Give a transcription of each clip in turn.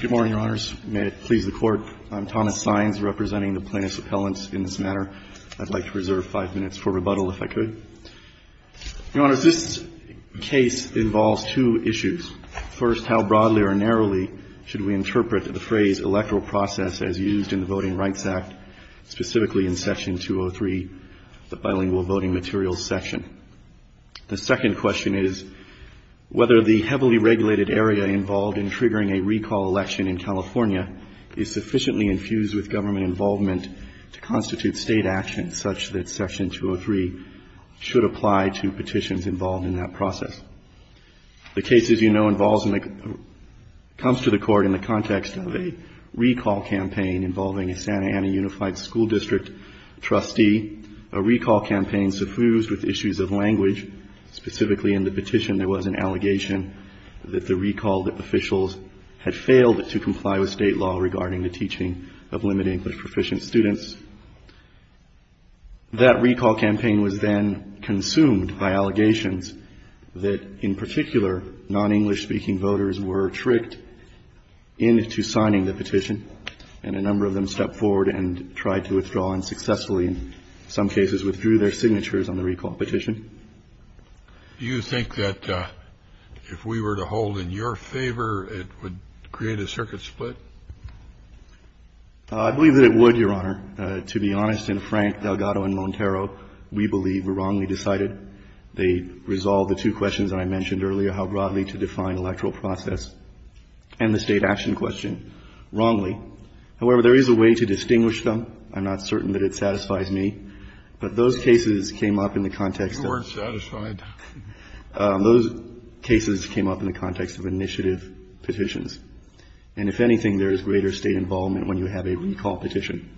Good morning, Your Honors. May it please the Court, I'm Thomas Sines, representing the Plaintiffs' Appellants. In this matter, I'd like to reserve five minutes for rebuttal, if I could. Your Honors, this case involves two issues. First, how broadly or narrowly should we interpret the phrase electoral process as used in the Voting Rights Act, specifically in Section 203, the Bilingual Voting Materials section? The second question is whether the heavily regulated area involved in triggering a recall election in California is sufficiently infused with government involvement to constitute State action such that Section 203 should apply to petitions involved in that process. The case, as you know, comes to the Court in the context of a recall campaign involving a Santa Ana Unified School District trustee. A recall campaign suffused with issues of language. Specifically in the petition, there was an allegation that the recall officials had failed to comply with State law regarding the teaching of limited English proficient students. That recall campaign was then consumed by allegations that, in particular, non-English speaking voters were tricked into signing the petition, and a number of them stepped forward and tried to withdraw and successfully, in some cases, withdrew their signatures on the recall petition. Do you think that if we were to hold in your favor, it would create a circuit split? I believe that it would, Your Honor. To be honest and frank, Delgado and Montero, we believe, were wrongly decided. They resolved the two questions that I mentioned earlier, how broadly to define electoral process, and the State action question, wrongly. However, there is a way to distinguish them. I'm not certain that it satisfies me. But those cases came up in the context of the initiative petitions. And if anything, there is greater State involvement when you have a recall petition,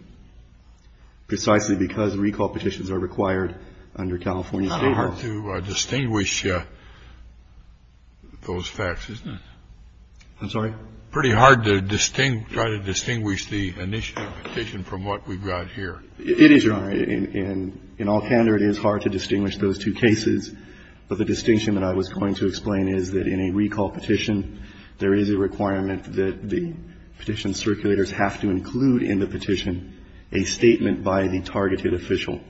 precisely because recall petitions are required under California State law. It's kind of hard to distinguish those facts, isn't it? I'm sorry? Pretty hard to try to distinguish the initiative petition from what we've got here. It is, Your Honor. In all candor, it is hard to distinguish those two cases. But the distinction that I was going to explain is that in a recall petition, there is a requirement that the petition circulators have to include in the petition a statement by the targeted official.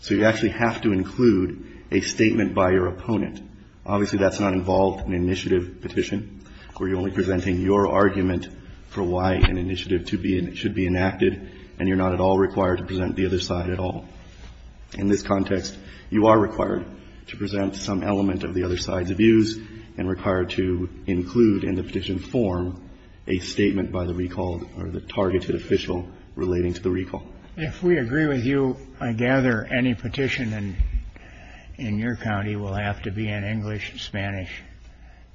So you actually have to include a statement by your opponent. Obviously, that's not involved in an initiative petition, where you're only presenting your argument for why an initiative should be enacted, and you're not at all required to present the other side at all. In this context, you are required to present some element of the other side's views and required to include in the petition form a statement by the recalled or the targeted official relating to the recall. If we agree with you, I gather any petition in your county will have to be in English, Spanish,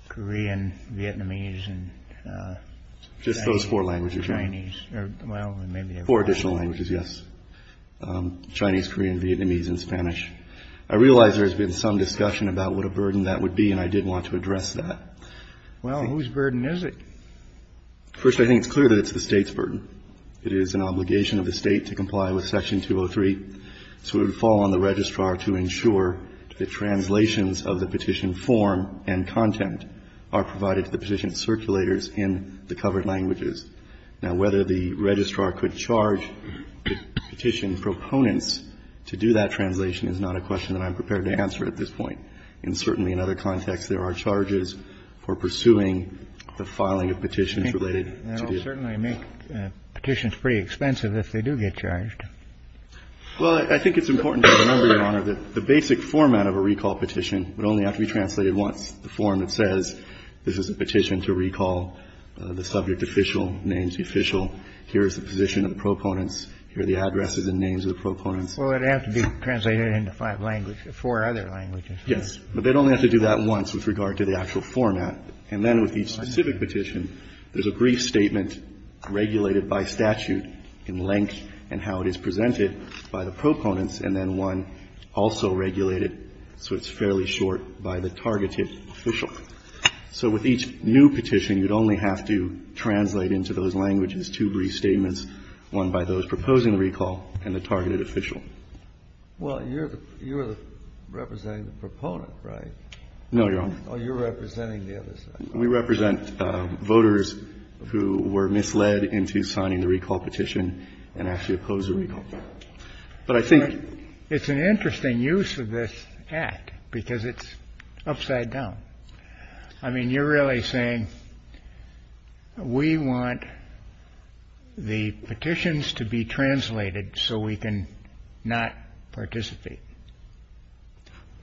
Korean, Vietnamese, and Chinese. Just those four languages, Your Honor. Well, maybe there are four. Four additional languages, yes. I'm sorry. Chinese, Korean, Vietnamese, and Spanish. I realize there has been some discussion about what a burden that would be, and I did want to address that. Well, whose burden is it? First, I think it's clear that it's the State's burden. It is an obligation of the State to comply with Section 203. So it would fall on the registrar to ensure that translations of the petition form and content are provided to the petition circulators in the covered languages. Now, whether the registrar could charge the petition proponents to do that translation is not a question that I'm prepared to answer at this point. And certainly in other contexts, there are charges for pursuing the filing of petitions related to this. That will certainly make petitions pretty expensive if they do get charged. Well, I think it's important to remember, Your Honor, that the basic format of a recall petition would only have to be translated once, the form that says this is a petition to recall the subject official, names the official. Here is the position of the proponents. Here are the addresses and names of the proponents. Well, it would have to be translated into five languages, four other languages. Yes. But they'd only have to do that once with regard to the actual format. And then with each specific petition, there's a brief statement regulated by statute in length and how it is presented by the proponents, and then one also regulated so it's fairly short, by the targeted official. So with each new petition, you'd only have to translate into those languages two brief statements, one by those proposing the recall and the targeted official. Well, you're representing the proponent, right? No, Your Honor. Oh, you're representing the other side. We represent voters who were misled into signing the recall petition and actually opposed the recall. But I think it's an interesting use of this act because it's upside down. I mean, you're really saying we want the petitions to be translated so we can not participate.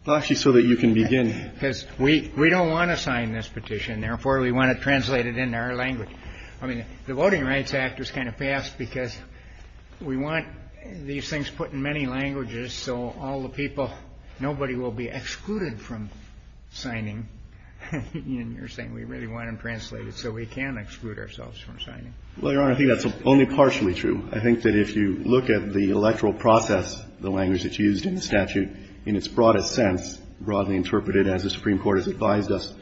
Well, actually, so that you can begin. Because we don't want to sign this petition. Therefore, we want to translate it into our language. I mean, the Voting Rights Act was kind of passed because we want these things put in many languages so all the people, nobody will be excluded from signing. And you're saying we really want them translated so we can exclude ourselves from signing. Well, Your Honor, I think that's only partially true. I think that if you look at the electoral process, the language that's used in the statute, in its broadest sense, broadly interpreted as the Supreme Court has advised us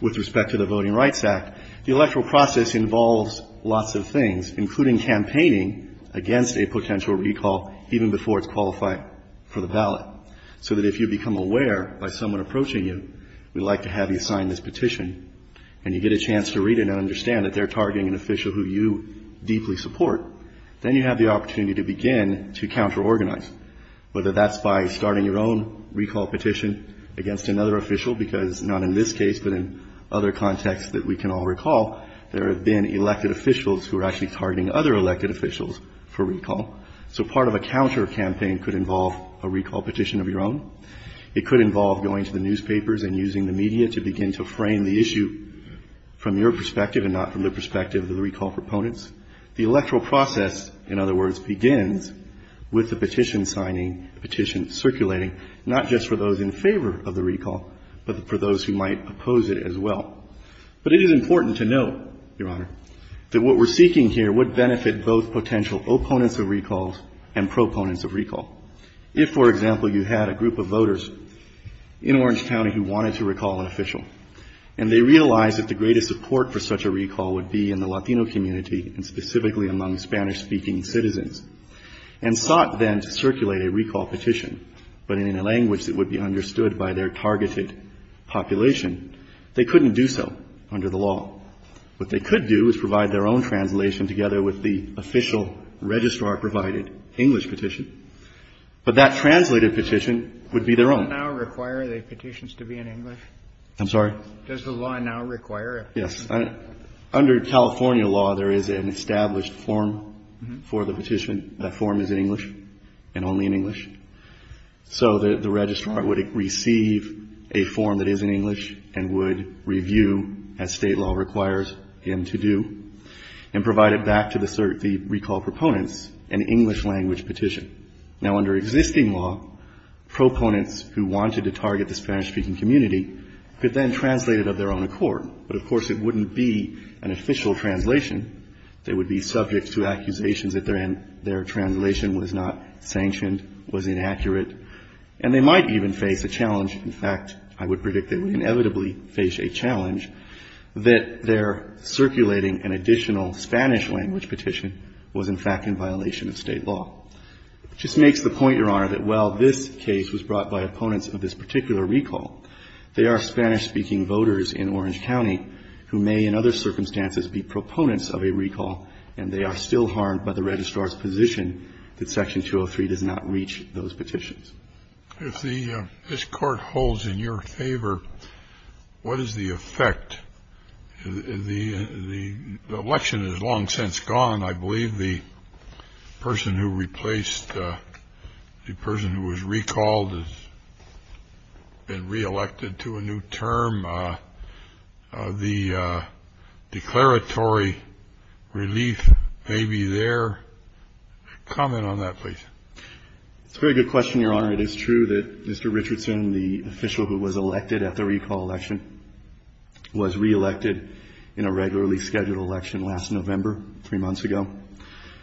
with respect to the Voting Rights Act, the electoral process involves lots of things, including campaigning against a potential recall even before it's qualified for the ballot. So that if you become aware by someone approaching you, we'd like to have you sign this petition, and you get a chance to read it and understand that they're targeting an official who you deeply support, then you have the opportunity to begin to counter-organize, whether that's by starting your own recall petition against another official, because not in this case, but in other contexts that we can all recall, there have been elected officials who are actually targeting other elected officials for recall. So part of a counter-campaign could involve a recall petition of your own. It could involve going to the newspapers and using the media to begin to frame the issue from your perspective and not from the perspective of the recall proponents. The electoral process, in other words, begins with the petition signing, petition circulating, not just for those in favor of the recall, but for those who might oppose it as well. But it is important to note, Your Honor, that what we're seeking here would benefit both potential opponents of recalls and proponents of recall. If, for example, you had a group of voters in Orange County who wanted to recall an official, and they realized that the greatest support for such a recall would be in the Latino community and specifically among Spanish-speaking citizens, and sought then to circulate a recall petition, but in a language that would be understood by their targeted population, they couldn't do so under the law. What they could do is provide their own translation together with the official registrar-provided English petition, but that translated petition would be their own. Kennedy. Does the law now require the petitions to be in English? Carvin. I'm sorry? Kennedy. Does the law now require it? Carvin. Yes. Under California law, there is an established form for the petition. That form is in English and only in English. So the registrar would receive a form that is in English and would review, as State law requires him to do, and provide it back to the recall proponents, an English-language petition. Now, under existing law, proponents who wanted to target the Spanish-speaking community could then translate it of their own accord. But, of course, it wouldn't be an official translation. They would be subject to accusations that their translation was not sanctioned, was inaccurate, and they might even face a challenge. In fact, I would predict they would inevitably face a challenge that their circulating an additional Spanish-language petition was, in fact, in violation of State law. It just makes the point, Your Honor, that while this case was brought by opponents of this particular recall, there are Spanish-speaking voters in Orange County who may, in other circumstances, be proponents of a recall, and they are still harmed by the registrar's position that Section 203 does not reach those petitions. If this Court holds in your favor, what is the effect? The election is long since gone. I believe the person who replaced the person who was recalled has been reelected to a new term. The declaratory relief may be there. Comment on that, please. It's a very good question, Your Honor. It is true that Mr. Richardson, the official who was elected at the recall election, was reelected in a regularly scheduled election last November, three months ago.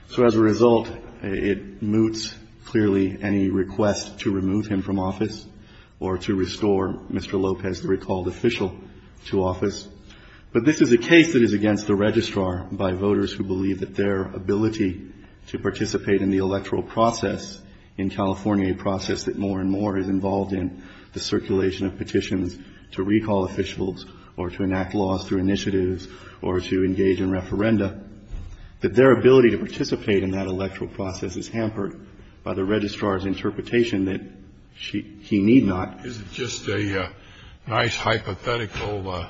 So as a result, it moots clearly any request to remove him from office or to restore Mr. Lopez, the recalled official, to office. But this is a case that is against the registrar by voters who believe that their ability to participate in the electoral process in California, a process that more and more is involved in the circulation of petitions to recall officials or to enact laws through initiatives or to engage in referenda, that their ability to participate in that electoral process is hampered by the registrar's interpretation that he need not. Is it just a nice hypothetical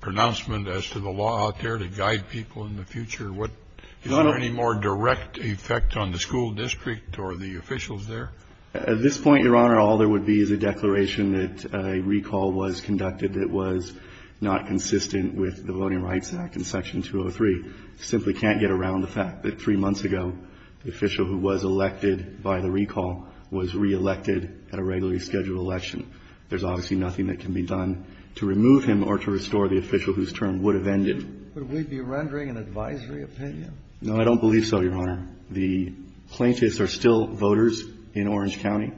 pronouncement as to the law out there to guide people in the future? Is there any more direct effect on the school district or the officials there? At this point, Your Honor, all there would be is a declaration that a recall was conducted that was not consistent with the Voting Rights Act and Section 203. You simply can't get around the fact that three months ago, the official who was elected by the recall was reelected at a regularly scheduled election. There's obviously nothing that can be done to remove him or to restore the official whose term would have ended. Would we be rendering an advisory opinion? No, I don't believe so, Your Honor. The plaintiffs are still voters in Orange County.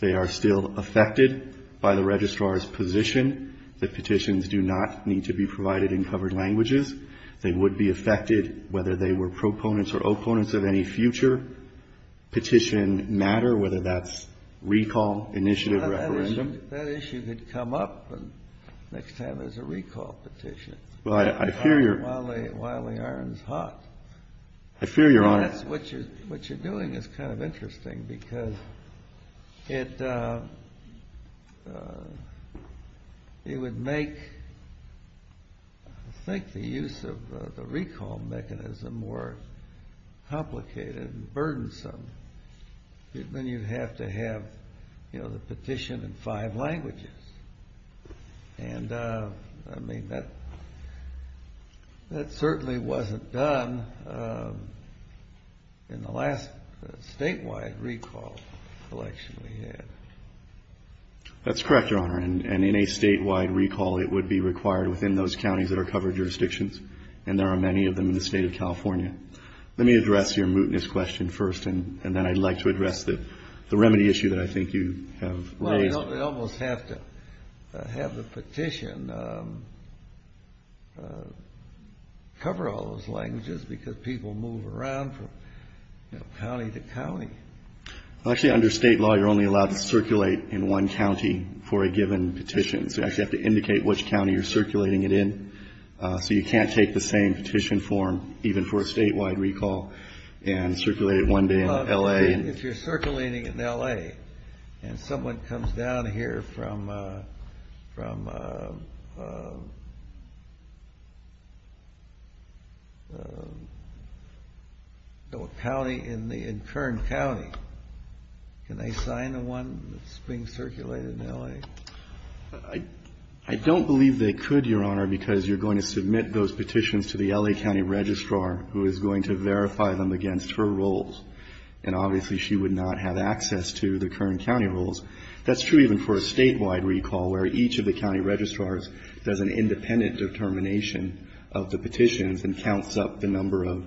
They are still affected by the registrar's position that petitions do not need to be provided in covered languages. They would be affected whether they were proponents or opponents of any future petition matter, whether that's recall, initiative, referendum. That issue could come up the next time there's a recall petition. Well, I fear Your Honor. While the iron's hot. I fear Your Honor. What you're doing is kind of interesting because it would make, I think, the use of the recall mechanism more complicated and burdensome. Then you'd have to have the petition in five languages. I mean, that certainly wasn't done in the last statewide recall election we had. That's correct, Your Honor. And in a statewide recall, it would be required within those counties that are covered jurisdictions, and there are many of them in the state of California. Let me address your mootness question first, and then I'd like to address the remedy issue that I think you have raised. Well, you almost have to have the petition cover all those languages because people move around from county to county. Actually, under state law, you're only allowed to circulate in one county for a given petition. So you actually have to indicate which county you're circulating it in. So you can't take the same petition form, even for a statewide recall, and circulate it one day in L.A. If you're circulating it in L.A., and someone comes down here from a county in Kern County, can they sign the one that's being circulated in L.A.? I don't believe they could, Your Honor, because you're going to submit those petitions to the L.A. County Registrar, who is going to verify them against her roles. And obviously, she would not have access to the Kern County roles. That's true even for a statewide recall, where each of the county registrars does an independent determination of the petitions and counts up the number of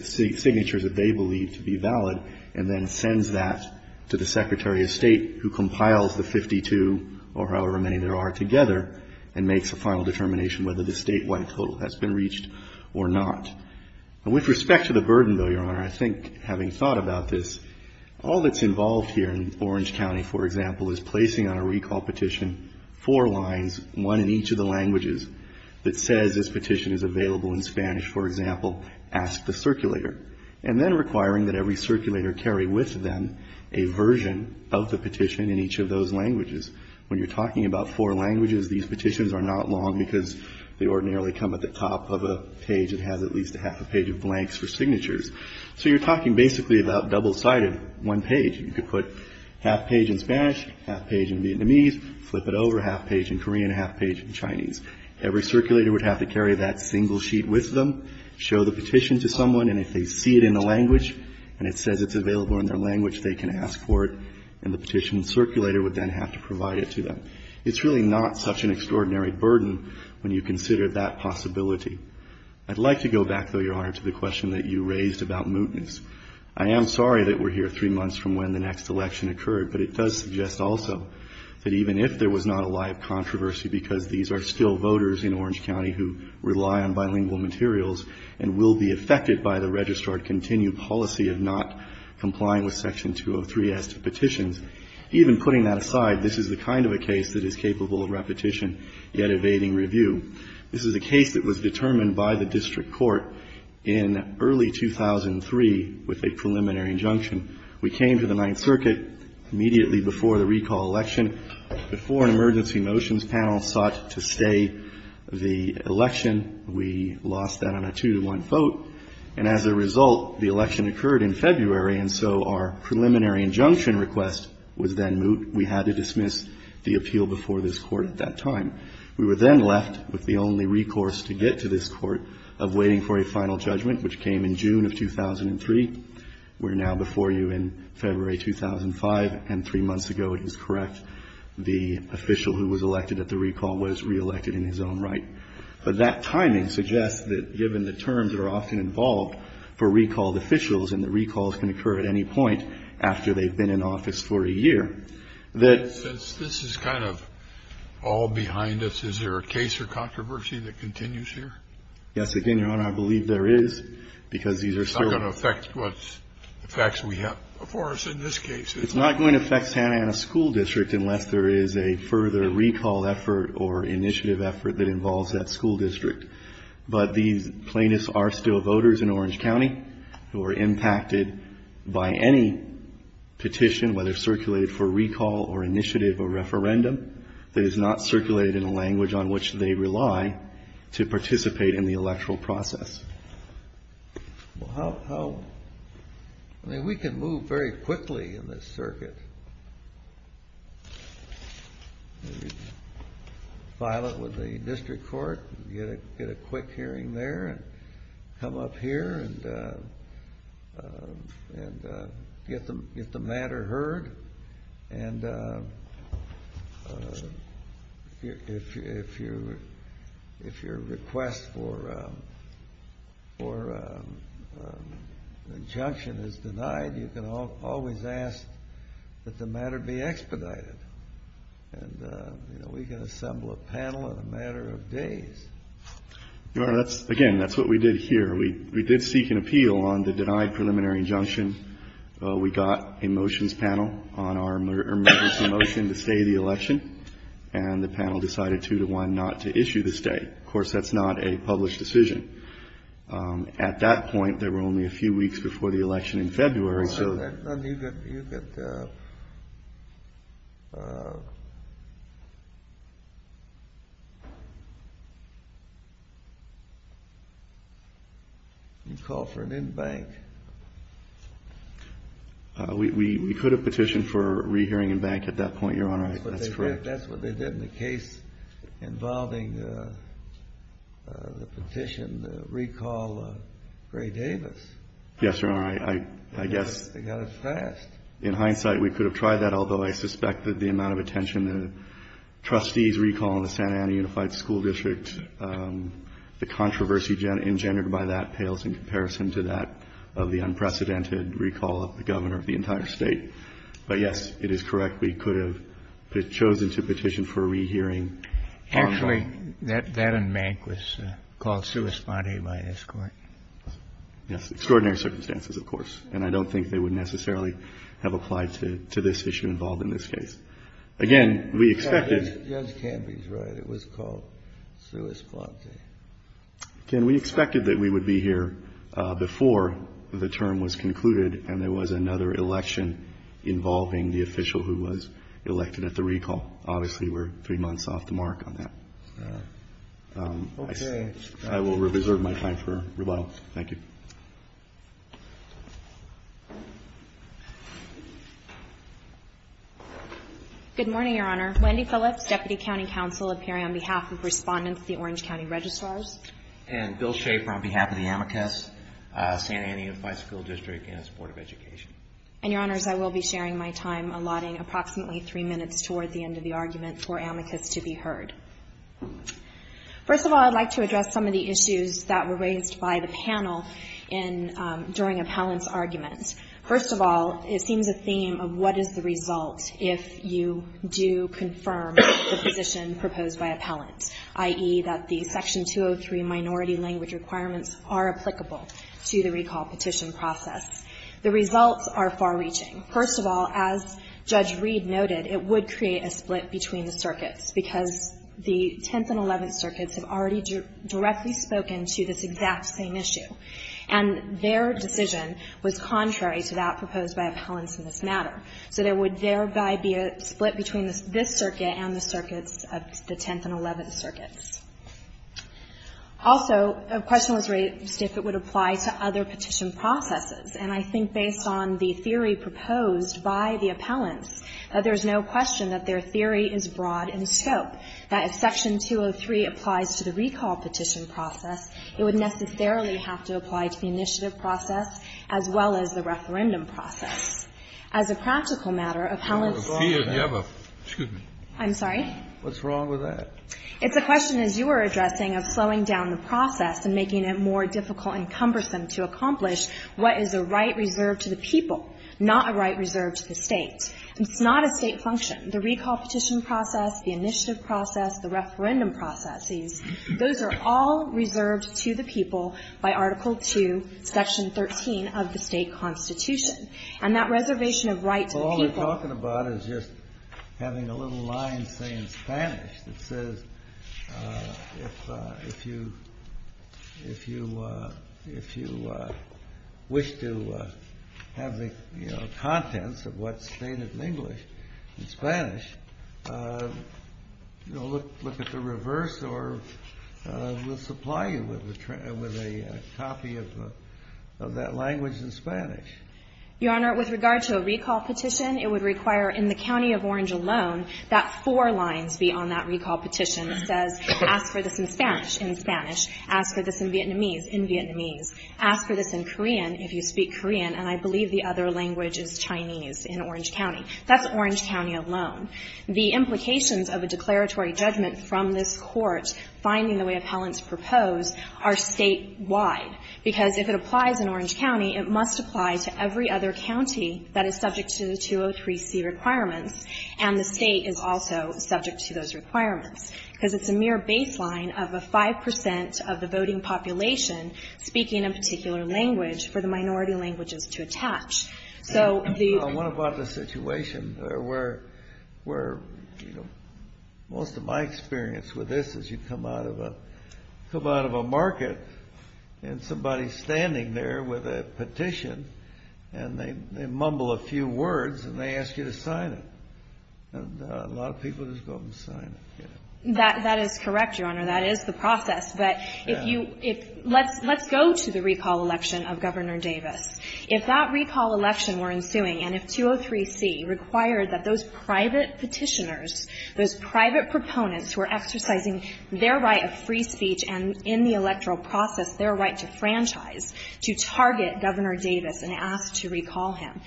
signatures that they believe to be valid, and then sends that to the Secretary of State, who compiles the 52, or however many there are together, and makes a final determination whether the statewide total has been reached or not. With respect to the burden, though, Your Honor, I think, having thought about this, all that's involved here in Orange County, for example, is placing on a recall petition four lines, one in each of the languages, that says this petition is available in Spanish, for example, ask the circulator. And then requiring that every circulator carry with them a version of the petition in each of those languages. When you're talking about four languages, these petitions are not long, because they ordinarily come at the top of a page that has at least a half a page of blanks for signatures. So you're talking basically about double-sided one page. You could put half page in Spanish, half page in Vietnamese, flip it over, half page in Korean, half page in Chinese. Every circulator would have to carry that single sheet with them, show the petition to someone, and if they see it in a language, and it says it's available in their language, they can ask for it, and the petition circulator would then have to provide it to them. It's really not such an extraordinary burden when you consider that possibility. I'd like to go back, though, Your Honor, to the question that you raised about mootness. I am sorry that we're here three months from when the next election occurred, but it does suggest also that even if there was not a live controversy, because these are still voters in Orange County who rely on bilingual materials and will be affected by the registrar-continued policy of not complying with Section 203-S petitions, even putting that aside, this is the kind of a case that is capable of repetition, yet evading review. This is a case that was determined by the district court in early 2003 with a preliminary injunction. We came to the Ninth Circuit immediately before the recall election. Before an emergency motions panel sought to stay the election, we lost that on a two-to-one vote, and as a result, the election occurred in February, and so our preliminary injunction request was then moot. We had to dismiss the appeal before this Court at that time. We were then left with the only recourse to get to this Court of waiting for a final judgment, which came in June of 2003. We're now before you in February 2005, and three months ago, it is correct, the official who was elected at the recall was reelected in his own right. But that timing suggests that given the terms that are often involved for recalled officials and that recalls can occur at any point after they've been in office for a year, that this is kind of all behind us. Is there a case or controversy that continues here? Yes. Again, Your Honor, I believe there is, because these are still going to affect the facts we have before us in this case. It's not going to affect Santa Ana School District unless there is a further recall effort or initiative effort that involves that school district. But these plaintiffs are still voters in Orange County who are impacted by any petition, whether circulated for recall or initiative or referendum, that is not circulated in a language on which they rely to participate in the electoral process. I mean, we can move very quickly in this circuit. We can file it with the district court, get a quick hearing there, come up here and get the matter heard. And if your request for injunction is denied, you can always ask that the matter be expedited. And, you know, we can assemble a panel in a matter of days. Your Honor, again, that's what we did here. We did seek an appeal on the denied preliminary injunction. We got a motions panel on our emergency motion to stay the election, and the panel decided two to one not to issue the stay. Of course, that's not a published decision. At that point, there were only a few weeks before the election in February. You could call for an in-bank. We could have petitioned for rehearing in-bank at that point, Your Honor. That's correct. That's what they did in the case involving the petition to recall Gray Davis. Yes, Your Honor. I guess in hindsight we could have tried that, although I suspect that the amount of attention the trustees recall in the Santa Ana Unified School District, the controversy engendered by that pales in comparison to that of the unprecedented recall of the governor of the entire State. But, yes, it is correct. We could have chosen to petition for a rehearing. Actually, that in-bank was called sui sponte by this Court. Yes, extraordinary circumstances, of course, and I don't think they would necessarily have applied to this issue involved in this case. Again, we expected. Judge Canby's right. It was called sui sponte. Again, we expected that we would be here before the term was concluded, and there was another election involving the official who was elected at the recall. Obviously, we're three months off the mark on that. Okay. I will reserve my time for rebuttal. Thank you. Good morning, Your Honor. Wendy Phillips, Deputy County Counsel, appearing on behalf of Respondents of the Orange County Registrars. And Bill Schaefer on behalf of the amicus, Santa Ana Unified School District and its Board of Education. And, Your Honors, I will be sharing my time allotting approximately three minutes toward the end of the argument for amicus to be heard. First of all, I'd like to address some of the issues that were raised by the panel in — during appellant's argument. First of all, it seems a theme of what is the result if you do confirm the position proposed by appellant, i.e., that the Section 203 minority language requirements are applicable to the recall petition process. The results are far-reaching. First of all, as Judge Reed noted, it would create a split between the circuits, because the Tenth and Eleventh Circuits have already directly spoken to this exact same issue. And their decision was contrary to that proposed by appellants in this matter. So there would thereby be a split between this circuit and the circuits of the Tenth and Eleventh Circuits. Also, a question was raised if it would apply to other petition processes. And I think, based on the theory proposed by the appellants, that there's no question that their theory is broad in scope, that if Section 203 applies to the recall petition process, it would necessarily have to apply to the initiative process as well as the referendum process. As a practical matter, appellants ought to have a — Scalia, do you have a — Excuse me. I'm sorry? What's wrong with that? It's a question, as you were addressing, of slowing down the process and making it more difficult and cumbersome to accomplish what is a right reserved to the people, not a right reserved to the State. It's not a State function. The recall petition process, the initiative process, the referendum processes, those are all reserved to the people by Article II, Section 13 of the State Constitution. And that reservation of right to the people — If you wish to have the, you know, contents of what's stated in English and Spanish, you know, look at the reverse or we'll supply you with a copy of that language in Spanish. Your Honor, with regard to a recall petition, it would require in the county of Orange alone that four lines be on that recall petition that says, ask for this in Spanish in Spanish, ask for this in Vietnamese in Vietnamese, ask for this in Korean if you speak Korean, and I believe the other language is Chinese in Orange County. That's Orange County alone. The implications of a declaratory judgment from this Court finding the way appellants propose are State-wide, because if it applies in Orange County, it must apply to every other county that is subject to the 203C requirements, and the State is also subject to those requirements. Because it's a mere baseline of a 5% of the voting population speaking a particular language for the minority languages to attach. So the — I wonder about the situation where, you know, most of my experience with this is you come out of a market and somebody's standing there with a petition and they mumble a few words and they ask you to sign it. And a lot of people just go up and sign it. That is correct, Your Honor. That is the process. But if you — Yeah. Let's go to the recall election of Governor Davis. If that recall election were ensuing and if 203C required that those private petitioners, those private proponents who are exercising their right of free speech and in the electoral process their right to franchise, to target Governor Davis and ask to recall him,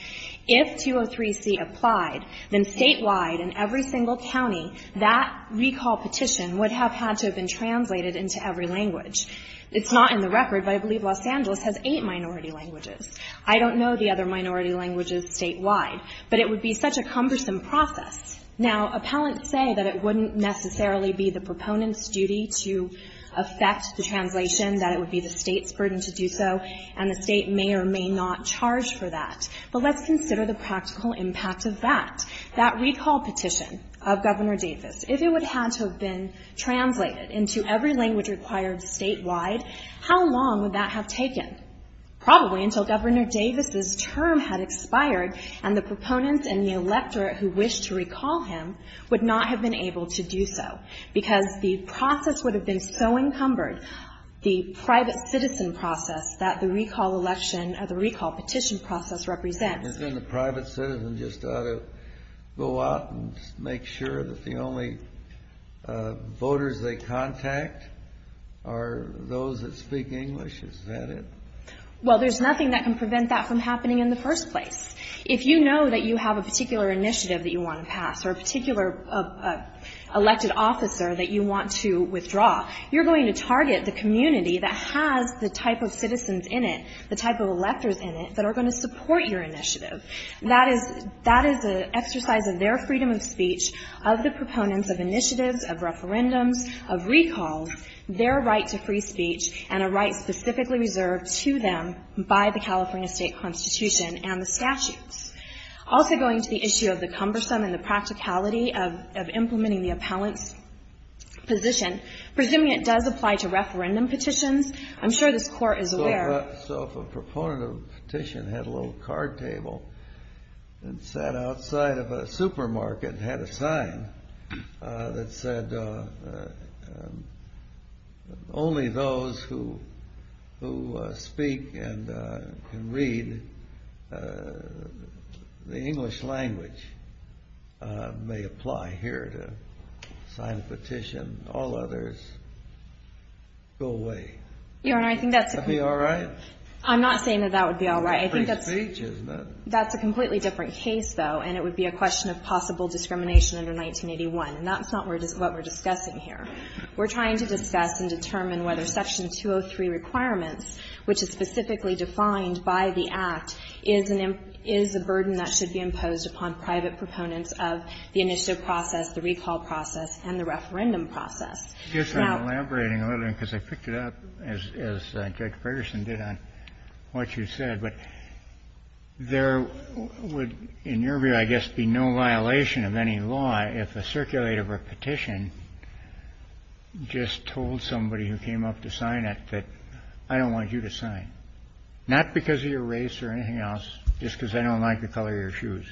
if 203C applied, then statewide in every single county that recall petition would have had to have been translated into every language. It's not in the record, but I believe Los Angeles has eight minority languages. I don't know the other minority languages statewide. But it would be such a cumbersome process. Now, appellants say that it wouldn't necessarily be the proponent's duty to effect the translation, that it would be the State's burden to do so, and the State may or may not charge for that. But let's consider the practical impact of that, that recall petition of Governor Davis. If it would have had to have been translated into every language required statewide, how long would that have taken? Probably until Governor Davis's term had expired and the proponents and the electorate who wished to recall him would not have been able to do so, because the process would have been so encumbered, the private citizen process that the recall election or the recall petition process represents. And then the private citizen just ought to go out and make sure that the only voters they contact are those that speak English? Is that it? Well, there's nothing that can prevent that from happening in the first place. If you know that you have a particular initiative that you want to pass or a particular elected officer that you want to withdraw, you're going to target the community that has the type of electors in it that are going to support your initiative. That is the exercise of their freedom of speech, of the proponents of initiatives, of referendums, of recalls, their right to free speech, and a right specifically reserved to them by the California State Constitution and the statutes. Also going to the issue of the cumbersome and the practicality of implementing the appellant's position, presuming it does apply to referendum petitions, I'm sure this Court is aware of that. A proponent of a petition had a little card table and sat outside of a supermarket and had a sign that said, only those who speak and can read the English language may apply here to sign a petition. All others go away. Your Honor, I think that's a... Are you all right? I'm not saying that that would be all right. I think that's a completely different case, though, and it would be a question of possible discrimination under 1981. And that's not what we're discussing here. We're trying to discuss and determine whether Section 203 requirements, which is specifically defined by the Act, is a burden that should be imposed upon private proponents of the initiative process, the recall process, and the referendum process. I guess I'm elaborating a little bit because I picked it up as Judge Ferguson did on what you said, but there would, in your view, I guess, be no violation of any law if a circulator of a petition just told somebody who came up to sign it that I don't want you to sign, not because of your race or anything else, just because I don't like the color of your shoes.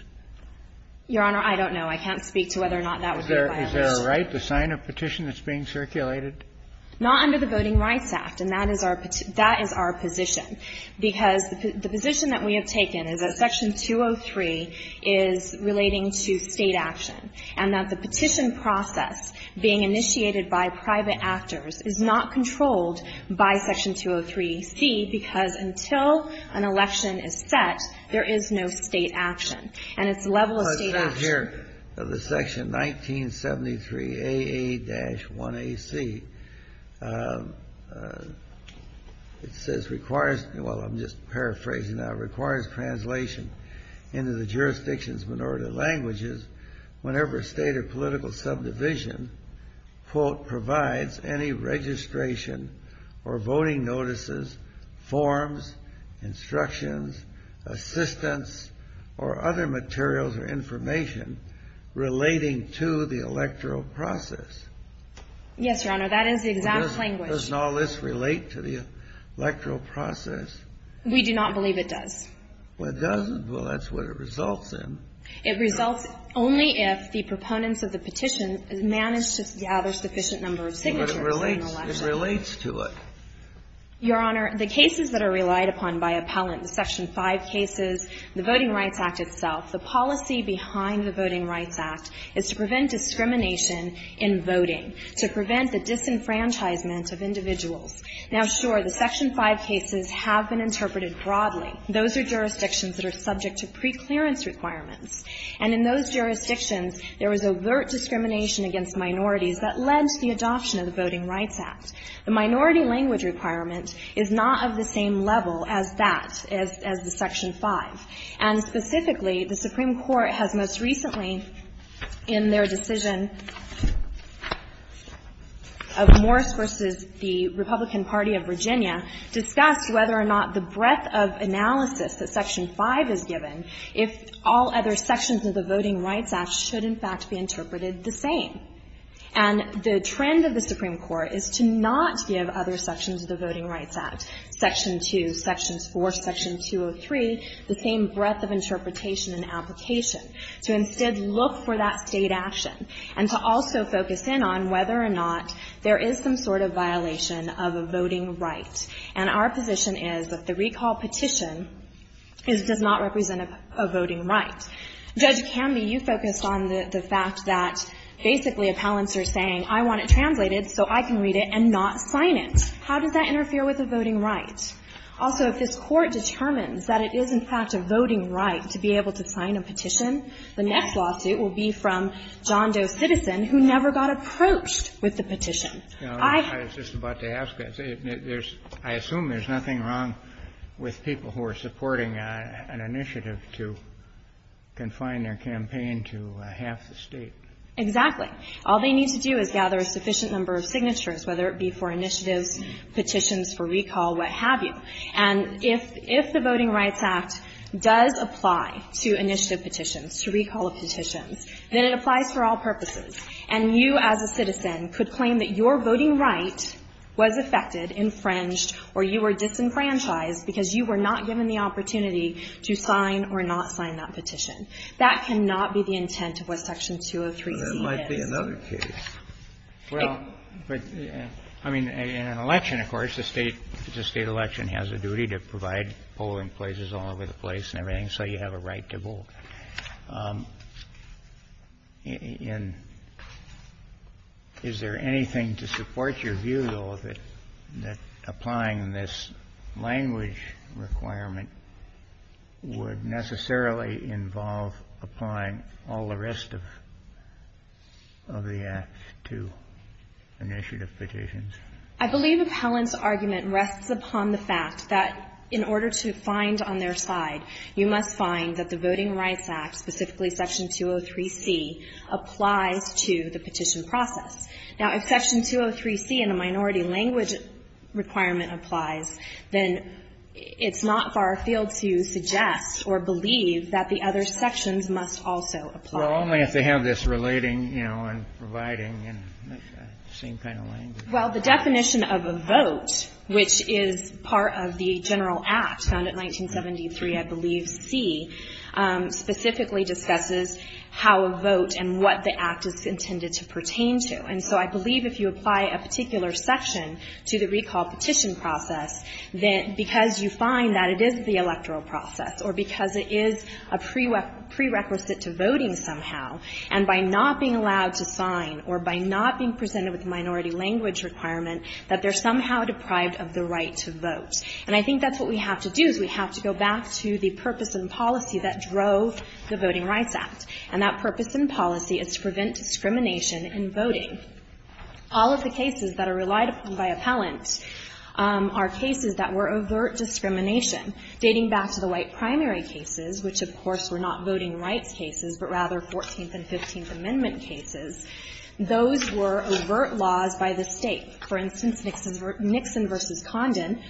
Your Honor, I don't know. I can't speak to whether or not that would be a violation. Is there a right to sign a petition that's being circulated? Not under the Voting Rights Act. And that is our position, because the position that we have taken is that Section 203 is relating to State action, and that the petition process being initiated by private actors is not controlled by Section 203C, because until an election is set, there is no State action. And it's a level of State action. Well, let's look here at the Section 1973AA-1AC. It says, requires, well, I'm just paraphrasing that. It requires translation into the jurisdiction's minority languages whenever a State or political subdivision, quote, provides any registration or voting notices, forms, instructions, assistance, or other materials or information relating to the electoral process. Yes, Your Honor. That is the exact language. Doesn't all this relate to the electoral process? We do not believe it does. Well, it doesn't? Well, that's what it results in. It results only if the proponents of the petition manage to gather sufficient number of signatures during the election. But it relates to it. Your Honor, the cases that are relied upon by appellant, the Section 5 cases, the Voting Rights Act itself, the policy behind the Voting Rights Act is to prevent discrimination in voting, to prevent the disenfranchisement of individuals. Now, sure, the Section 5 cases have been interpreted broadly. Those are jurisdictions that are subject to preclearance requirements. And in those jurisdictions, there was overt discrimination against minorities that led to the adoption of the Voting Rights Act. The minority language requirement is not of the same level as that, as the Section 5. And specifically, the Supreme Court has most recently, in their decision of Morris v. the Republican Party of Virginia, discussed whether or not the breadth of analysis that Section 5 is given, if all other sections of the Voting Rights Act should in fact be interpreted the same. And the trend of the Supreme Court is to not give other sections of the Voting Rights Act, Section 2, Sections 4, Section 203, the same breadth of interpretation and application, to instead look for that State action, and to also focus in on whether or not there is some sort of violation of a voting right. And our position is that the recall petition does not represent a voting right. Judge Canby, you focused on the fact that basically appellants are saying, I want it translated so I can read it and not sign it. How does that interfere with a voting right? Also, if this Court determines that it is, in fact, a voting right to be able to sign a petition, the next lawsuit will be from John Doe Citizen, who never got approached with the petition. I assume there's nothing wrong with people who are supporting an initiative to confine their campaign to half the State. Exactly. All they need to do is gather a sufficient number of signatures, whether it be for initiatives, petitions for recall, what have you. And if the Voting Rights Act does apply to initiative petitions, to recall petitions, then it applies for all purposes. And you as a citizen could claim that your voting right was affected, infringed, or you were disenfranchised because you were not given the opportunity to sign or not sign that petition. That cannot be the intent of what Section 203c is. But there might be another case. Well, but, I mean, in an election, of course, the State election has a duty to provide polling places all over the place and everything, so you have a right to vote. And is there anything to support your view, though, that applying this language requirement would necessarily involve applying all the rest of the Act to initiative petitions? I believe Appellant's argument rests upon the fact that in order to find on their side, you must find that the Voting Rights Act, specifically Section 203c, applies to the petition process. Now, if Section 203c in a minority language requirement applies, then it's not far-field to suggest or believe that the other sections must also apply. Well, only if they have this relating, you know, and providing, and same kind of language. Well, the definition of a vote, which is part of the general Act, found in 1973, I believe, c, specifically discusses how a vote and what the Act is intended to pertain to. And so I believe if you apply a particular section to the recall petition process, then because you find that it is the electoral process or because it is a prerequisite to voting somehow, and by not being allowed to sign or by not being presented with a minority language requirement, that they're somehow deprived of the right to vote. And I think that's what we have to do, is we have to go back to the purpose and policy that drove the Voting Rights Act. And that purpose and policy is to prevent discrimination in voting. All of the cases that are relied upon by Appellant are cases that were overt discrimination, dating back to the white primary cases, which, of course, were not voting rights cases, but rather 14th and 15th Amendment cases. Those were overt laws by the State. For instance, Nixon versus Condon,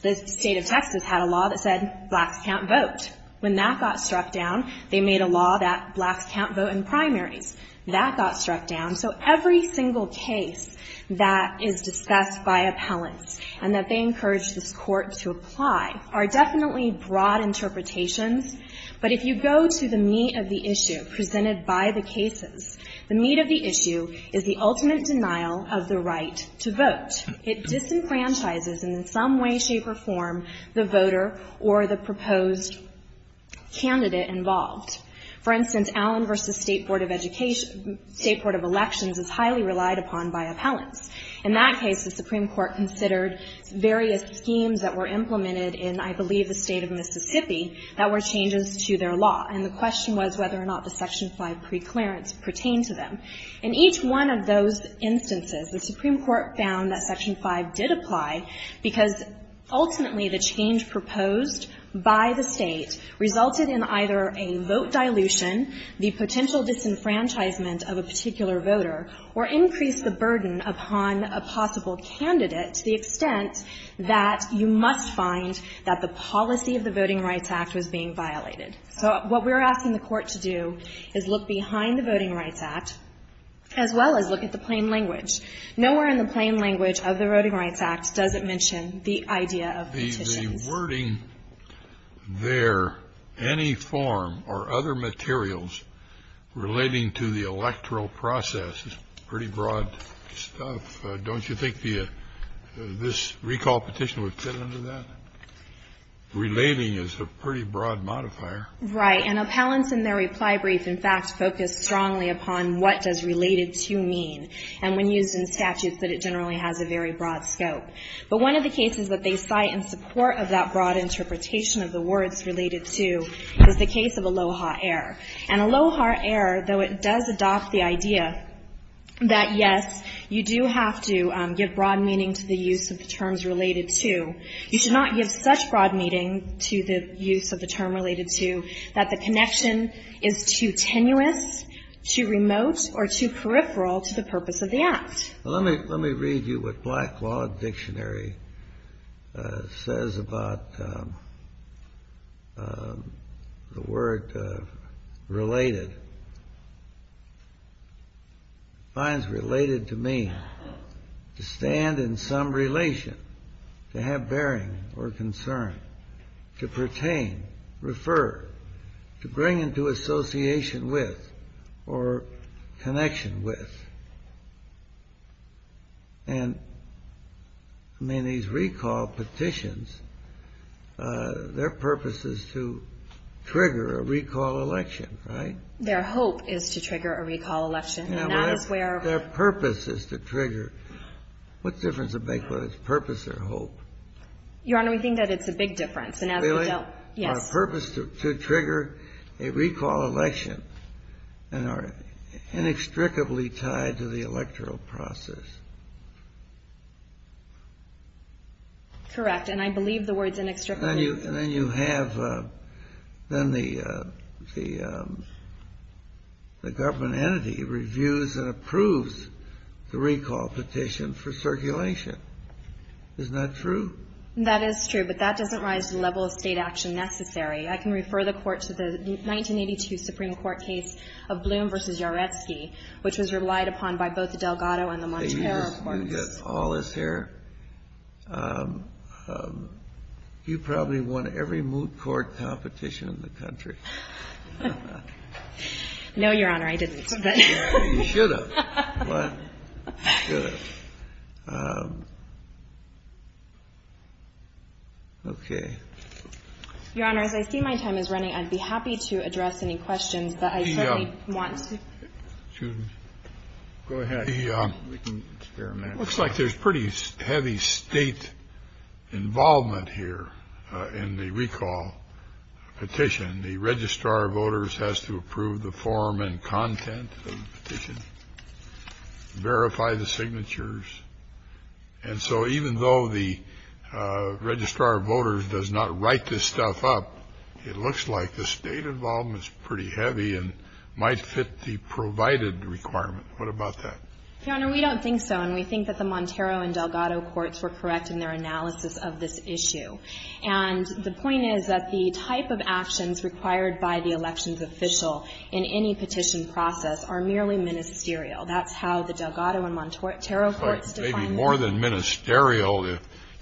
the State of Texas had a law that said blacks can't vote. When that got struck down, they made a law that blacks can't vote in primaries. That got struck down. So every single case that is discussed by Appellants and that they encourage this Court to apply are definitely broad interpretations. But if you go to the meat of the issue presented by the cases, the meat of the issue is the ultimate denial of the right to vote. It disenfranchises in some way, shape, or form the voter or the proposed candidate involved. For instance, Allen versus State Board of Education, State Board of Elections is highly relied upon by Appellants. In that case, the Supreme Court considered various schemes that were implemented in, I believe, the State of Mississippi that were changes to their law. And the question was whether or not the Section 5 preclearance pertained to them. In each one of those instances, the Supreme Court found that Section 5 did apply because ultimately the change proposed by the State resulted in either a vote dilution, the potential disenfranchisement of a particular voter, or increased the burden upon a possible candidate to the extent that you must find that the policy of the Voting Rights Act was being violated. So what we're asking the Court to do is look behind the Voting Rights Act as well as look at the plain language. Nowhere in the plain language of the Voting Rights Act does it mention the idea of petitions. The wording there, any form or other materials relating to the electoral process, is pretty broad stuff. Don't you think this recall petition would fit into that? Relating is a pretty broad modifier. Right. And Appellants in their reply brief, in fact, focused strongly upon what does related to mean, and when used in statutes, that it generally has a very broad scope. But one of the cases that they cite in support of that broad interpretation of the words related to is the case of Aloha Error. And Aloha Error, though it does adopt the idea that, yes, you do have to give broad meaning to the use of the terms related to, you should not give such broad meaning to the use of the term related to that the connection is too tenuous, too remote, or too peripheral to the purpose of the act. Let me read you what Black Law Dictionary says about the word related. It defines related to mean to stand in some relation, to have bearing or concern, to pertain, refer, to bring into association with, or connection with. And, I mean, these recall petitions, their purpose is to trigger a recall election, right? Their hope is to trigger a recall election. And that is where their purpose is to trigger. What difference does it make whether it's purpose or hope? Your Honor, we think that it's a big difference. Really? Yes. Or a purpose to trigger a recall election and are inextricably tied to the electoral process. Correct. And I believe the word is inextricably tied. And then you have the government entity reviews and approves the recall petition for circulation. Isn't that true? That is true. But that doesn't rise to the level of State action necessary. I can refer the Court to the 1982 Supreme Court case of Bloom v. Yaretsky, which was relied upon by both the Delgado and the Montero courts. You get all this here. You probably won every moot court competition in the country. No, Your Honor. I didn't. You should have won. Good. Okay. Your Honor, as I see my time is running, I'd be happy to address any questions that I certainly want to. Excuse me. Go ahead. We can experiment. It looks like there's pretty heavy State involvement here in the recall petition. The registrar of voters has to approve the form and content of the petition. Verify the signatures. And so even though the registrar of voters does not write this stuff up, it looks like the State involvement is pretty heavy and might fit the provided requirement. What about that? Your Honor, we don't think so. And we think that the Montero and Delgado courts were correct in their analysis of this issue. And the point is that the type of actions required by the elections official in any petition process are merely ministerial. That's how the Delgado and Montero courts define them. But maybe more than ministerial,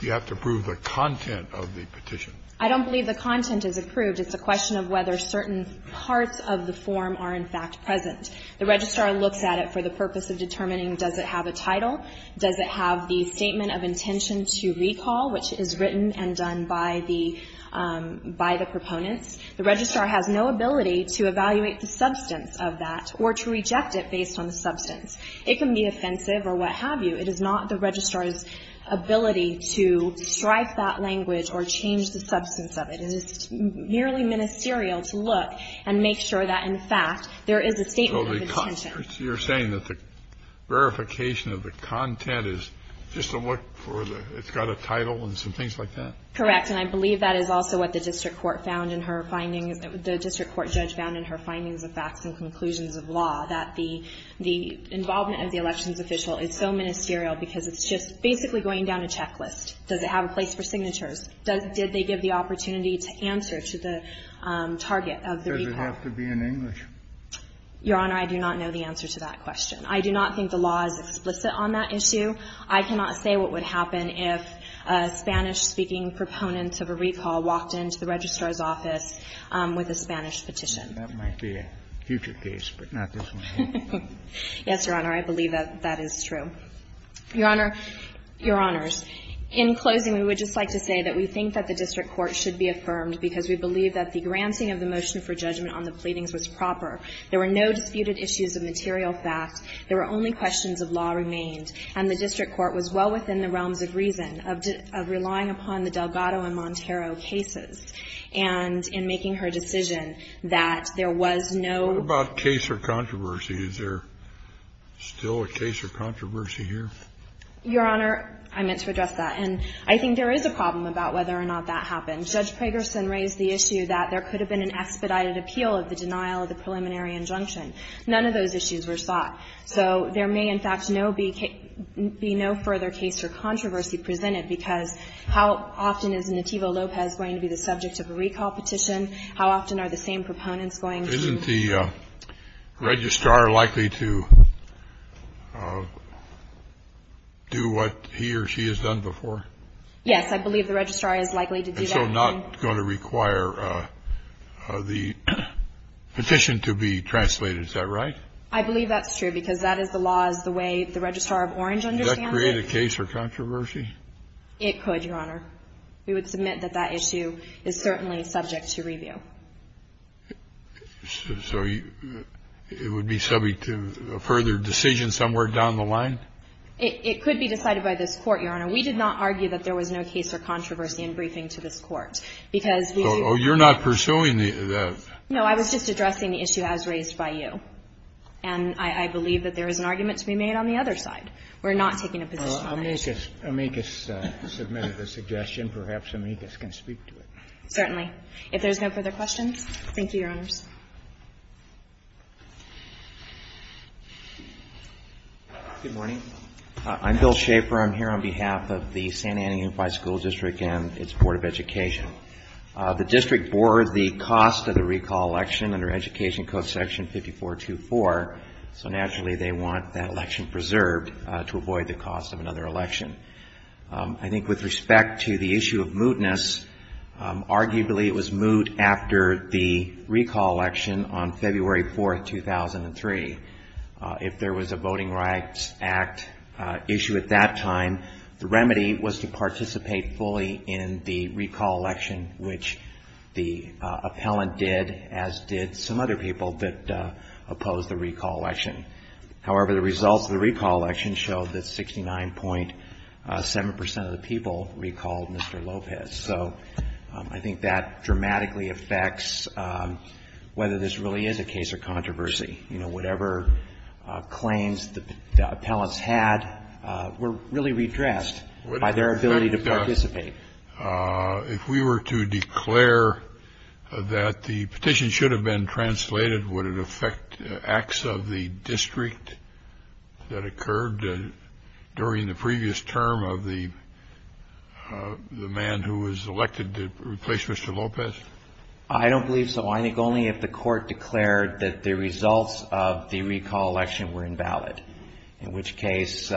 you have to approve the content of the petition. I don't believe the content is approved. It's a question of whether certain parts of the form are in fact present. The registrar looks at it for the purpose of determining does it have a title, does it have the statement of intention to recall, which is written and done by the proponents. The registrar has no ability to evaluate the substance of that or to reject it based on the substance. It can be offensive or what have you. It is not the registrar's ability to strike that language or change the substance of it. It is merely ministerial to look and make sure that, in fact, there is a statement of intention. So you're saying that the verification of the content is just to look for the – it's got a title and some things like that? Correct. And I believe that is also what the district court found in her findings – the district court judge found in her findings of facts and conclusions of law, that the involvement of the elections official is so ministerial because it's just basically going down a checklist. Does it have a place for signatures? Did they give the opportunity to answer to the target of the people? Does it have to be in English? Your Honor, I do not know the answer to that question. I do not think the law is explicit on that issue. I cannot say what would happen if a Spanish-speaking proponent of a recall walked into the registrar's office with a Spanish petition. That might be a future case, but not this one. Yes, Your Honor. I believe that that is true. Your Honor. Your Honors. In closing, we would just like to say that we think that the district court should be affirmed because we believe that the granting of the motion for judgment on the pleadings was proper. There were no disputed issues of material facts. There were only questions of law remained. And the district court was well within the realms of reason of relying upon the Delgado and Montero cases. And in making her decision that there was no ---- What about case or controversy? Is there still a case or controversy here? Your Honor, I meant to address that. And I think there is a problem about whether or not that happened. Judge Pragerson raised the issue that there could have been an expedited appeal of the denial of the preliminary injunction. None of those issues were sought. So there may, in fact, be no further case or controversy presented because how often is Nativo Lopez going to be the subject of a recall petition? How often are the same proponents going to be? Isn't the registrar likely to do what he or she has done before? Yes. I believe the registrar is likely to do that. And so not going to require the petition to be translated. Is that right? I believe that's true because that is the law, is the way the registrar of Orange understands it. Does that create a case or controversy? It could, Your Honor. We would submit that that issue is certainly subject to review. So it would be subject to a further decision somewhere down the line? It could be decided by this Court, Your Honor. We did not argue that there was no case or controversy in briefing to this Court because we do ---- Oh, you're not pursuing the ---- No, I was just addressing the issue as raised by you. And I believe that there is an argument to be made on the other side. We're not taking a position on it. Amicus submitted a suggestion. Perhaps Amicus can speak to it. Certainly. If there's no further questions, thank you, Your Honors. Good morning. I'm Bill Schaffer. I'm here on behalf of the Santa Ana Unified School District and its Board of Education. The district bore the cost of the recall election under Education Code Section 5424, so naturally they want that election preserved to avoid the cost of another election. I think with respect to the issue of mootness, arguably it was moot after the recall election on February 4, 2003. If there was a Voting Rights Act issue at that time, the remedy was to participate fully in the recall election, which the appellant did, as did some other people that opposed the recall election. However, the results of the recall election showed that 69.7 percent of the people recalled Mr. Lopez. So I think that dramatically affects whether this really is a case of controversy. You know, whatever claims the appellants had were really redressed by their ability to participate. If we were to declare that the petition should have been translated, would it affect acts of the district that occurred during the previous term of the man who was elected to replace Mr. Lopez? I don't believe so. I think only if the court declared that the results of the recall election were invalid, in which case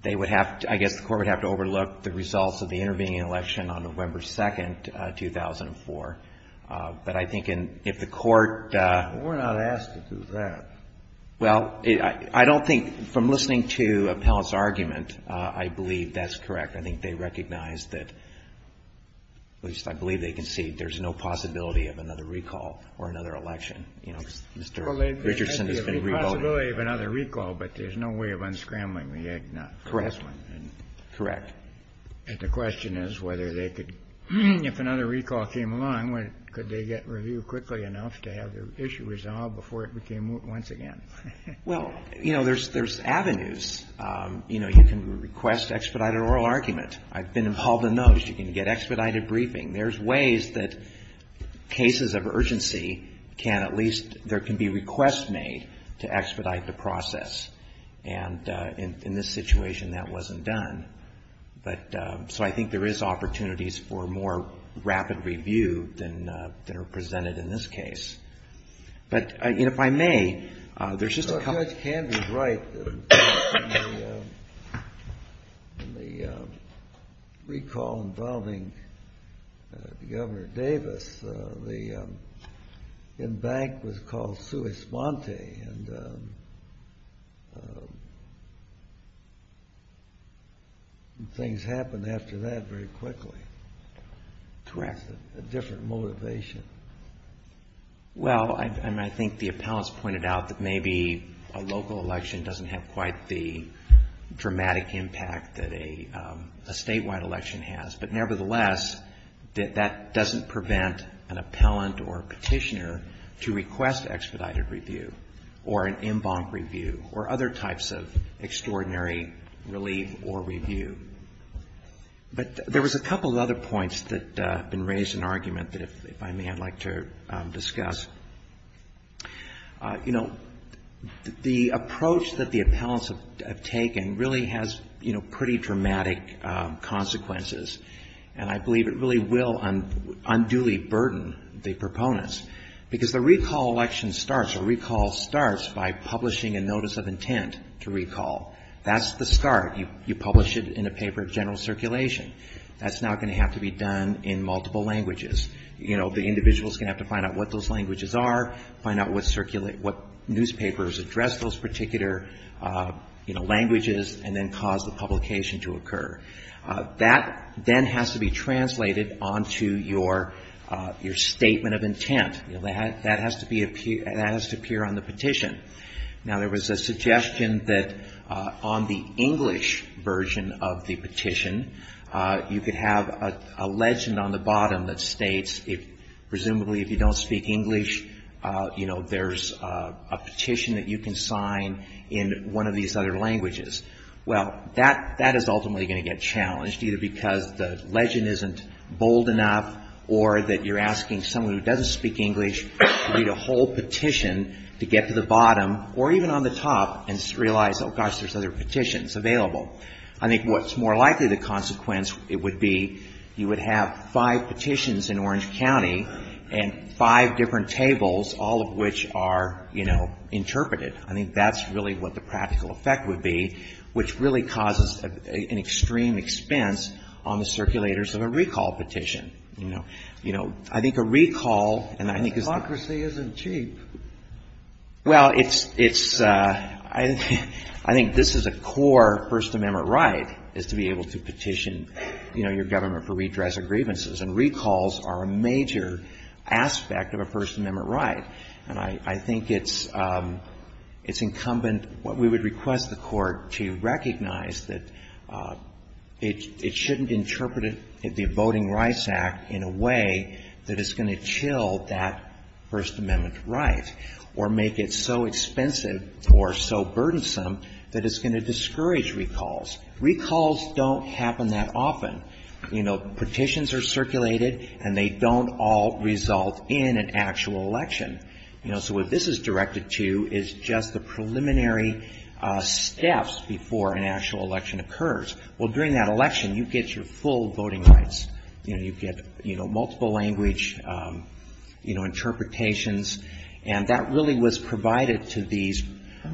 they would have to, I guess the court would have to overlook the results of the intervening election on November 2, 2004. But I think if the court. We're not asked to do that. Well, I don't think, from listening to the appellant's argument, I believe that's correct. I think they recognize that, at least I believe they can see, there's no possibility of another recall or another election. You know, Mr. Richardson has been revoted. Well, there's the possibility of another recall, but there's no way of unscrambling the eggnog. Correct. Correct. And the question is whether they could, if another recall came along, could they get review quickly enough to have their issue resolved before it became once again? Well, you know, there's avenues. You know, you can request expedited oral argument. I've been involved in those. You can get expedited briefing. There's ways that cases of urgency can at least, there can be requests made to expedite the process. And in this situation, that wasn't done. But so I think there is opportunities for more rapid review than are presented in this case. But if I may, there's just a couple. I think Ed was right in the recall involving Governor Davis. The embankment was called sui sponte, and things happened after that very quickly. Correct. A different motivation. Well, I mean, I think the appellants pointed out that maybe a local election doesn't have quite the dramatic impact that a statewide election has. But nevertheless, that doesn't prevent an appellant or a petitioner to request expedited review or an embankment review or other types of extraordinary relief or review. But there was a couple of other points that have been raised in argument that, if I may, I'd like to discuss. You know, the approach that the appellants have taken really has, you know, pretty dramatic consequences. And I believe it really will unduly burden the proponents, because the recall election starts or recall starts by publishing a notice of intent to recall. That's the start. You publish it in a paper of general circulation. That's now going to have to be done in multiple languages. You know, the individual is going to have to find out what those languages are, find out what circulate, what newspapers address those particular, you know, languages, and then cause the publication to occur. That then has to be translated onto your statement of intent. That has to appear on the petition. Now, there was a suggestion that on the English version of the petition, you could have a legend on the bottom that states, presumably, if you don't speak English, you know, there's a petition that you can sign in one of these other languages. Well, that is ultimately going to get challenged, either because the legend isn't bold enough or that you're asking someone who doesn't speak English to read a whole petition to get to the bottom or even on the top and realize, oh, gosh, there's other petitions available. I think what's more likely the consequence, it would be you would have five petitions in Orange County and five different tables, all of which are, you know, interpreted. I think that's really what the practical effect would be, which really causes an extreme expense on the circulators of a recall petition, you know. You know, I think a recall, and I think it's a core First Amendment right is to be able to petition, you know, your government for redress of grievances, and recalls are a major aspect of a First Amendment right. And I think it's incumbent, what we would request the Court to recognize, that it shouldn't interpret the Voting Rights Act in a way that is going to chill that First Amendment right or make it so expensive or so burdensome that it's going to discourage recalls. Recalls don't happen that often. You know, petitions are circulated, and they don't all result in an actual election. You know, so what this is directed to is just the preliminary steps before an actual election occurs. Well, during that election, you get your full voting rights. You know, you get, you know, multiple language, you know, interpretations. And that really was provided to these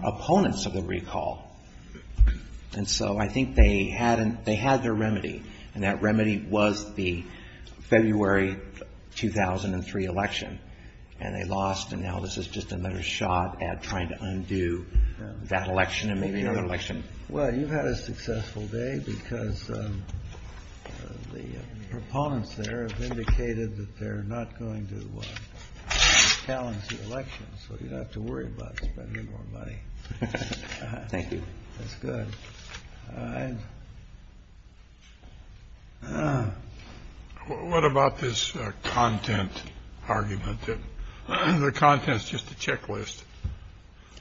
opponents of the recall. And so I think they had their remedy, and that remedy was the February 2003 election. And they lost, and now this is just another shot at trying to undo that election and maybe another election. Well, you've had a successful day because the proponents there have indicated that they're not going to challenge the election, so you don't have to worry about spending more money. Thank you. That's good. All right. What about this content argument that the content is just a checklist?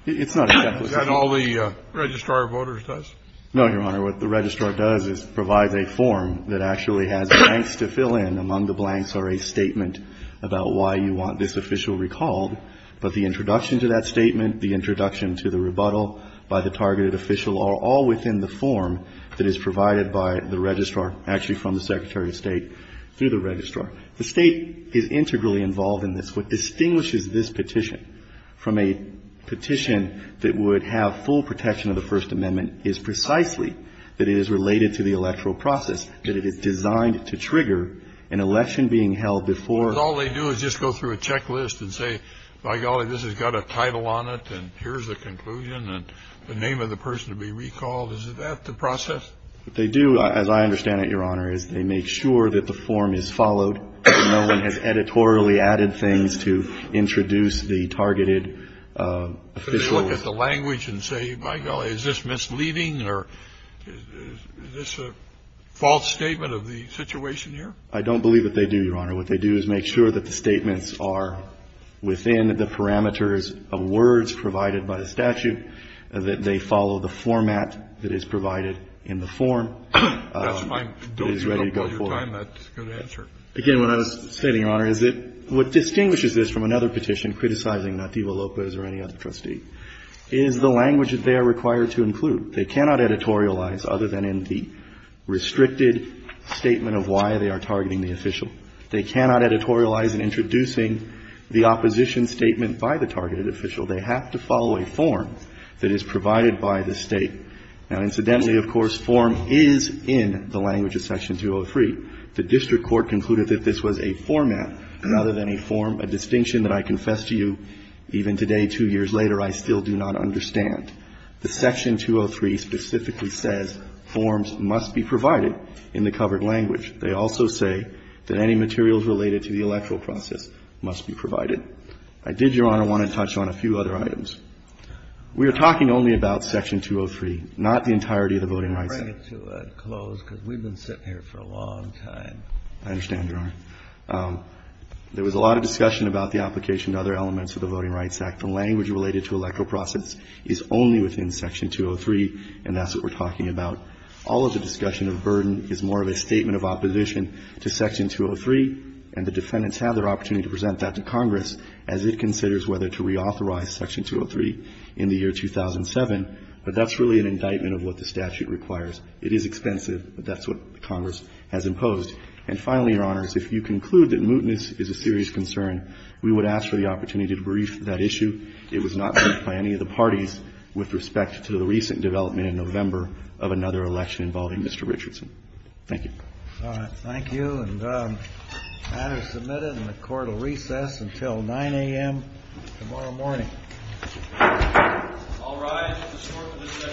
It's not a checklist. Is that all the Registrar of Voters does? No, Your Honor. What the Registrar does is provides a form that actually has blanks to fill in. Among the blanks are a statement about why you want this official recalled. But the introduction to that statement, the introduction to the rebuttal by the targeted official are all within the form that is provided by the Registrar, actually from the Secretary of State through the Registrar. The State is integrally involved in this. What distinguishes this petition from a petition that would have full protection of the First Amendment is precisely that it is related to the electoral process, that it is designed to trigger an election being held before. All they do is just go through a checklist and say, by golly, this has got a title on it and here's the conclusion and the name of the person to be recalled. Is that the process? They do, as I understand it, Your Honor, is they make sure that the form is followed. No one has editorially added things to introduce the targeted official. They look at the language and say, by golly, is this misleading or is this a false statement of the situation here? I don't believe that they do, Your Honor. What they do is make sure that the statements are within the parameters of words provided by the statute, that they follow the format that is provided in the form that is ready to go forward. That's fine. Don't give up all your time. That's a good answer. Again, what I was saying, Your Honor, is that what distinguishes this from another petition, criticizing not Diva Lopez or any other trustee, is the language that they are required to include. They cannot editorialize other than in the restricted statement of why they are targeting the official. They cannot editorialize in introducing the opposition statement by the targeted official. They have to follow a form that is provided by the State. Now, incidentally, of course, form is in the language of Section 203. The district court concluded that this was a format rather than a form, a distinction that I confess to you even today, two years later, I still do not understand. The Section 203 specifically says forms must be provided in the covered language. They also say that any materials related to the electoral process must be provided. I did, Your Honor, want to touch on a few other items. We are talking only about Section 203, not the entirety of the Voting Rights Act. Breyer, to close, because we've been sitting here for a long time. I understand, Your Honor. There was a lot of discussion about the application to other elements of the Voting Rights Act. The language related to electoral process is only within Section 203, and that's what we're talking about. All of the discussion of burden is more of a statement of opposition to Section 203, and the defendants have their opportunity to present that to Congress as it considers whether to reauthorize Section 203 in the year 2007. But that's really an indictment of what the statute requires. It is expensive, but that's what Congress has imposed. And finally, Your Honors, if you conclude that mootness is a serious concern, we would ask for the opportunity to brief that issue. It was not briefed by any of the parties with respect to the recent development in November of another election involving Mr. Richardson. Thank you. All right. Thank you. And the matter is submitted, and the Court will recess until 9 a.m. tomorrow morning. All rise. The Court will adjourn.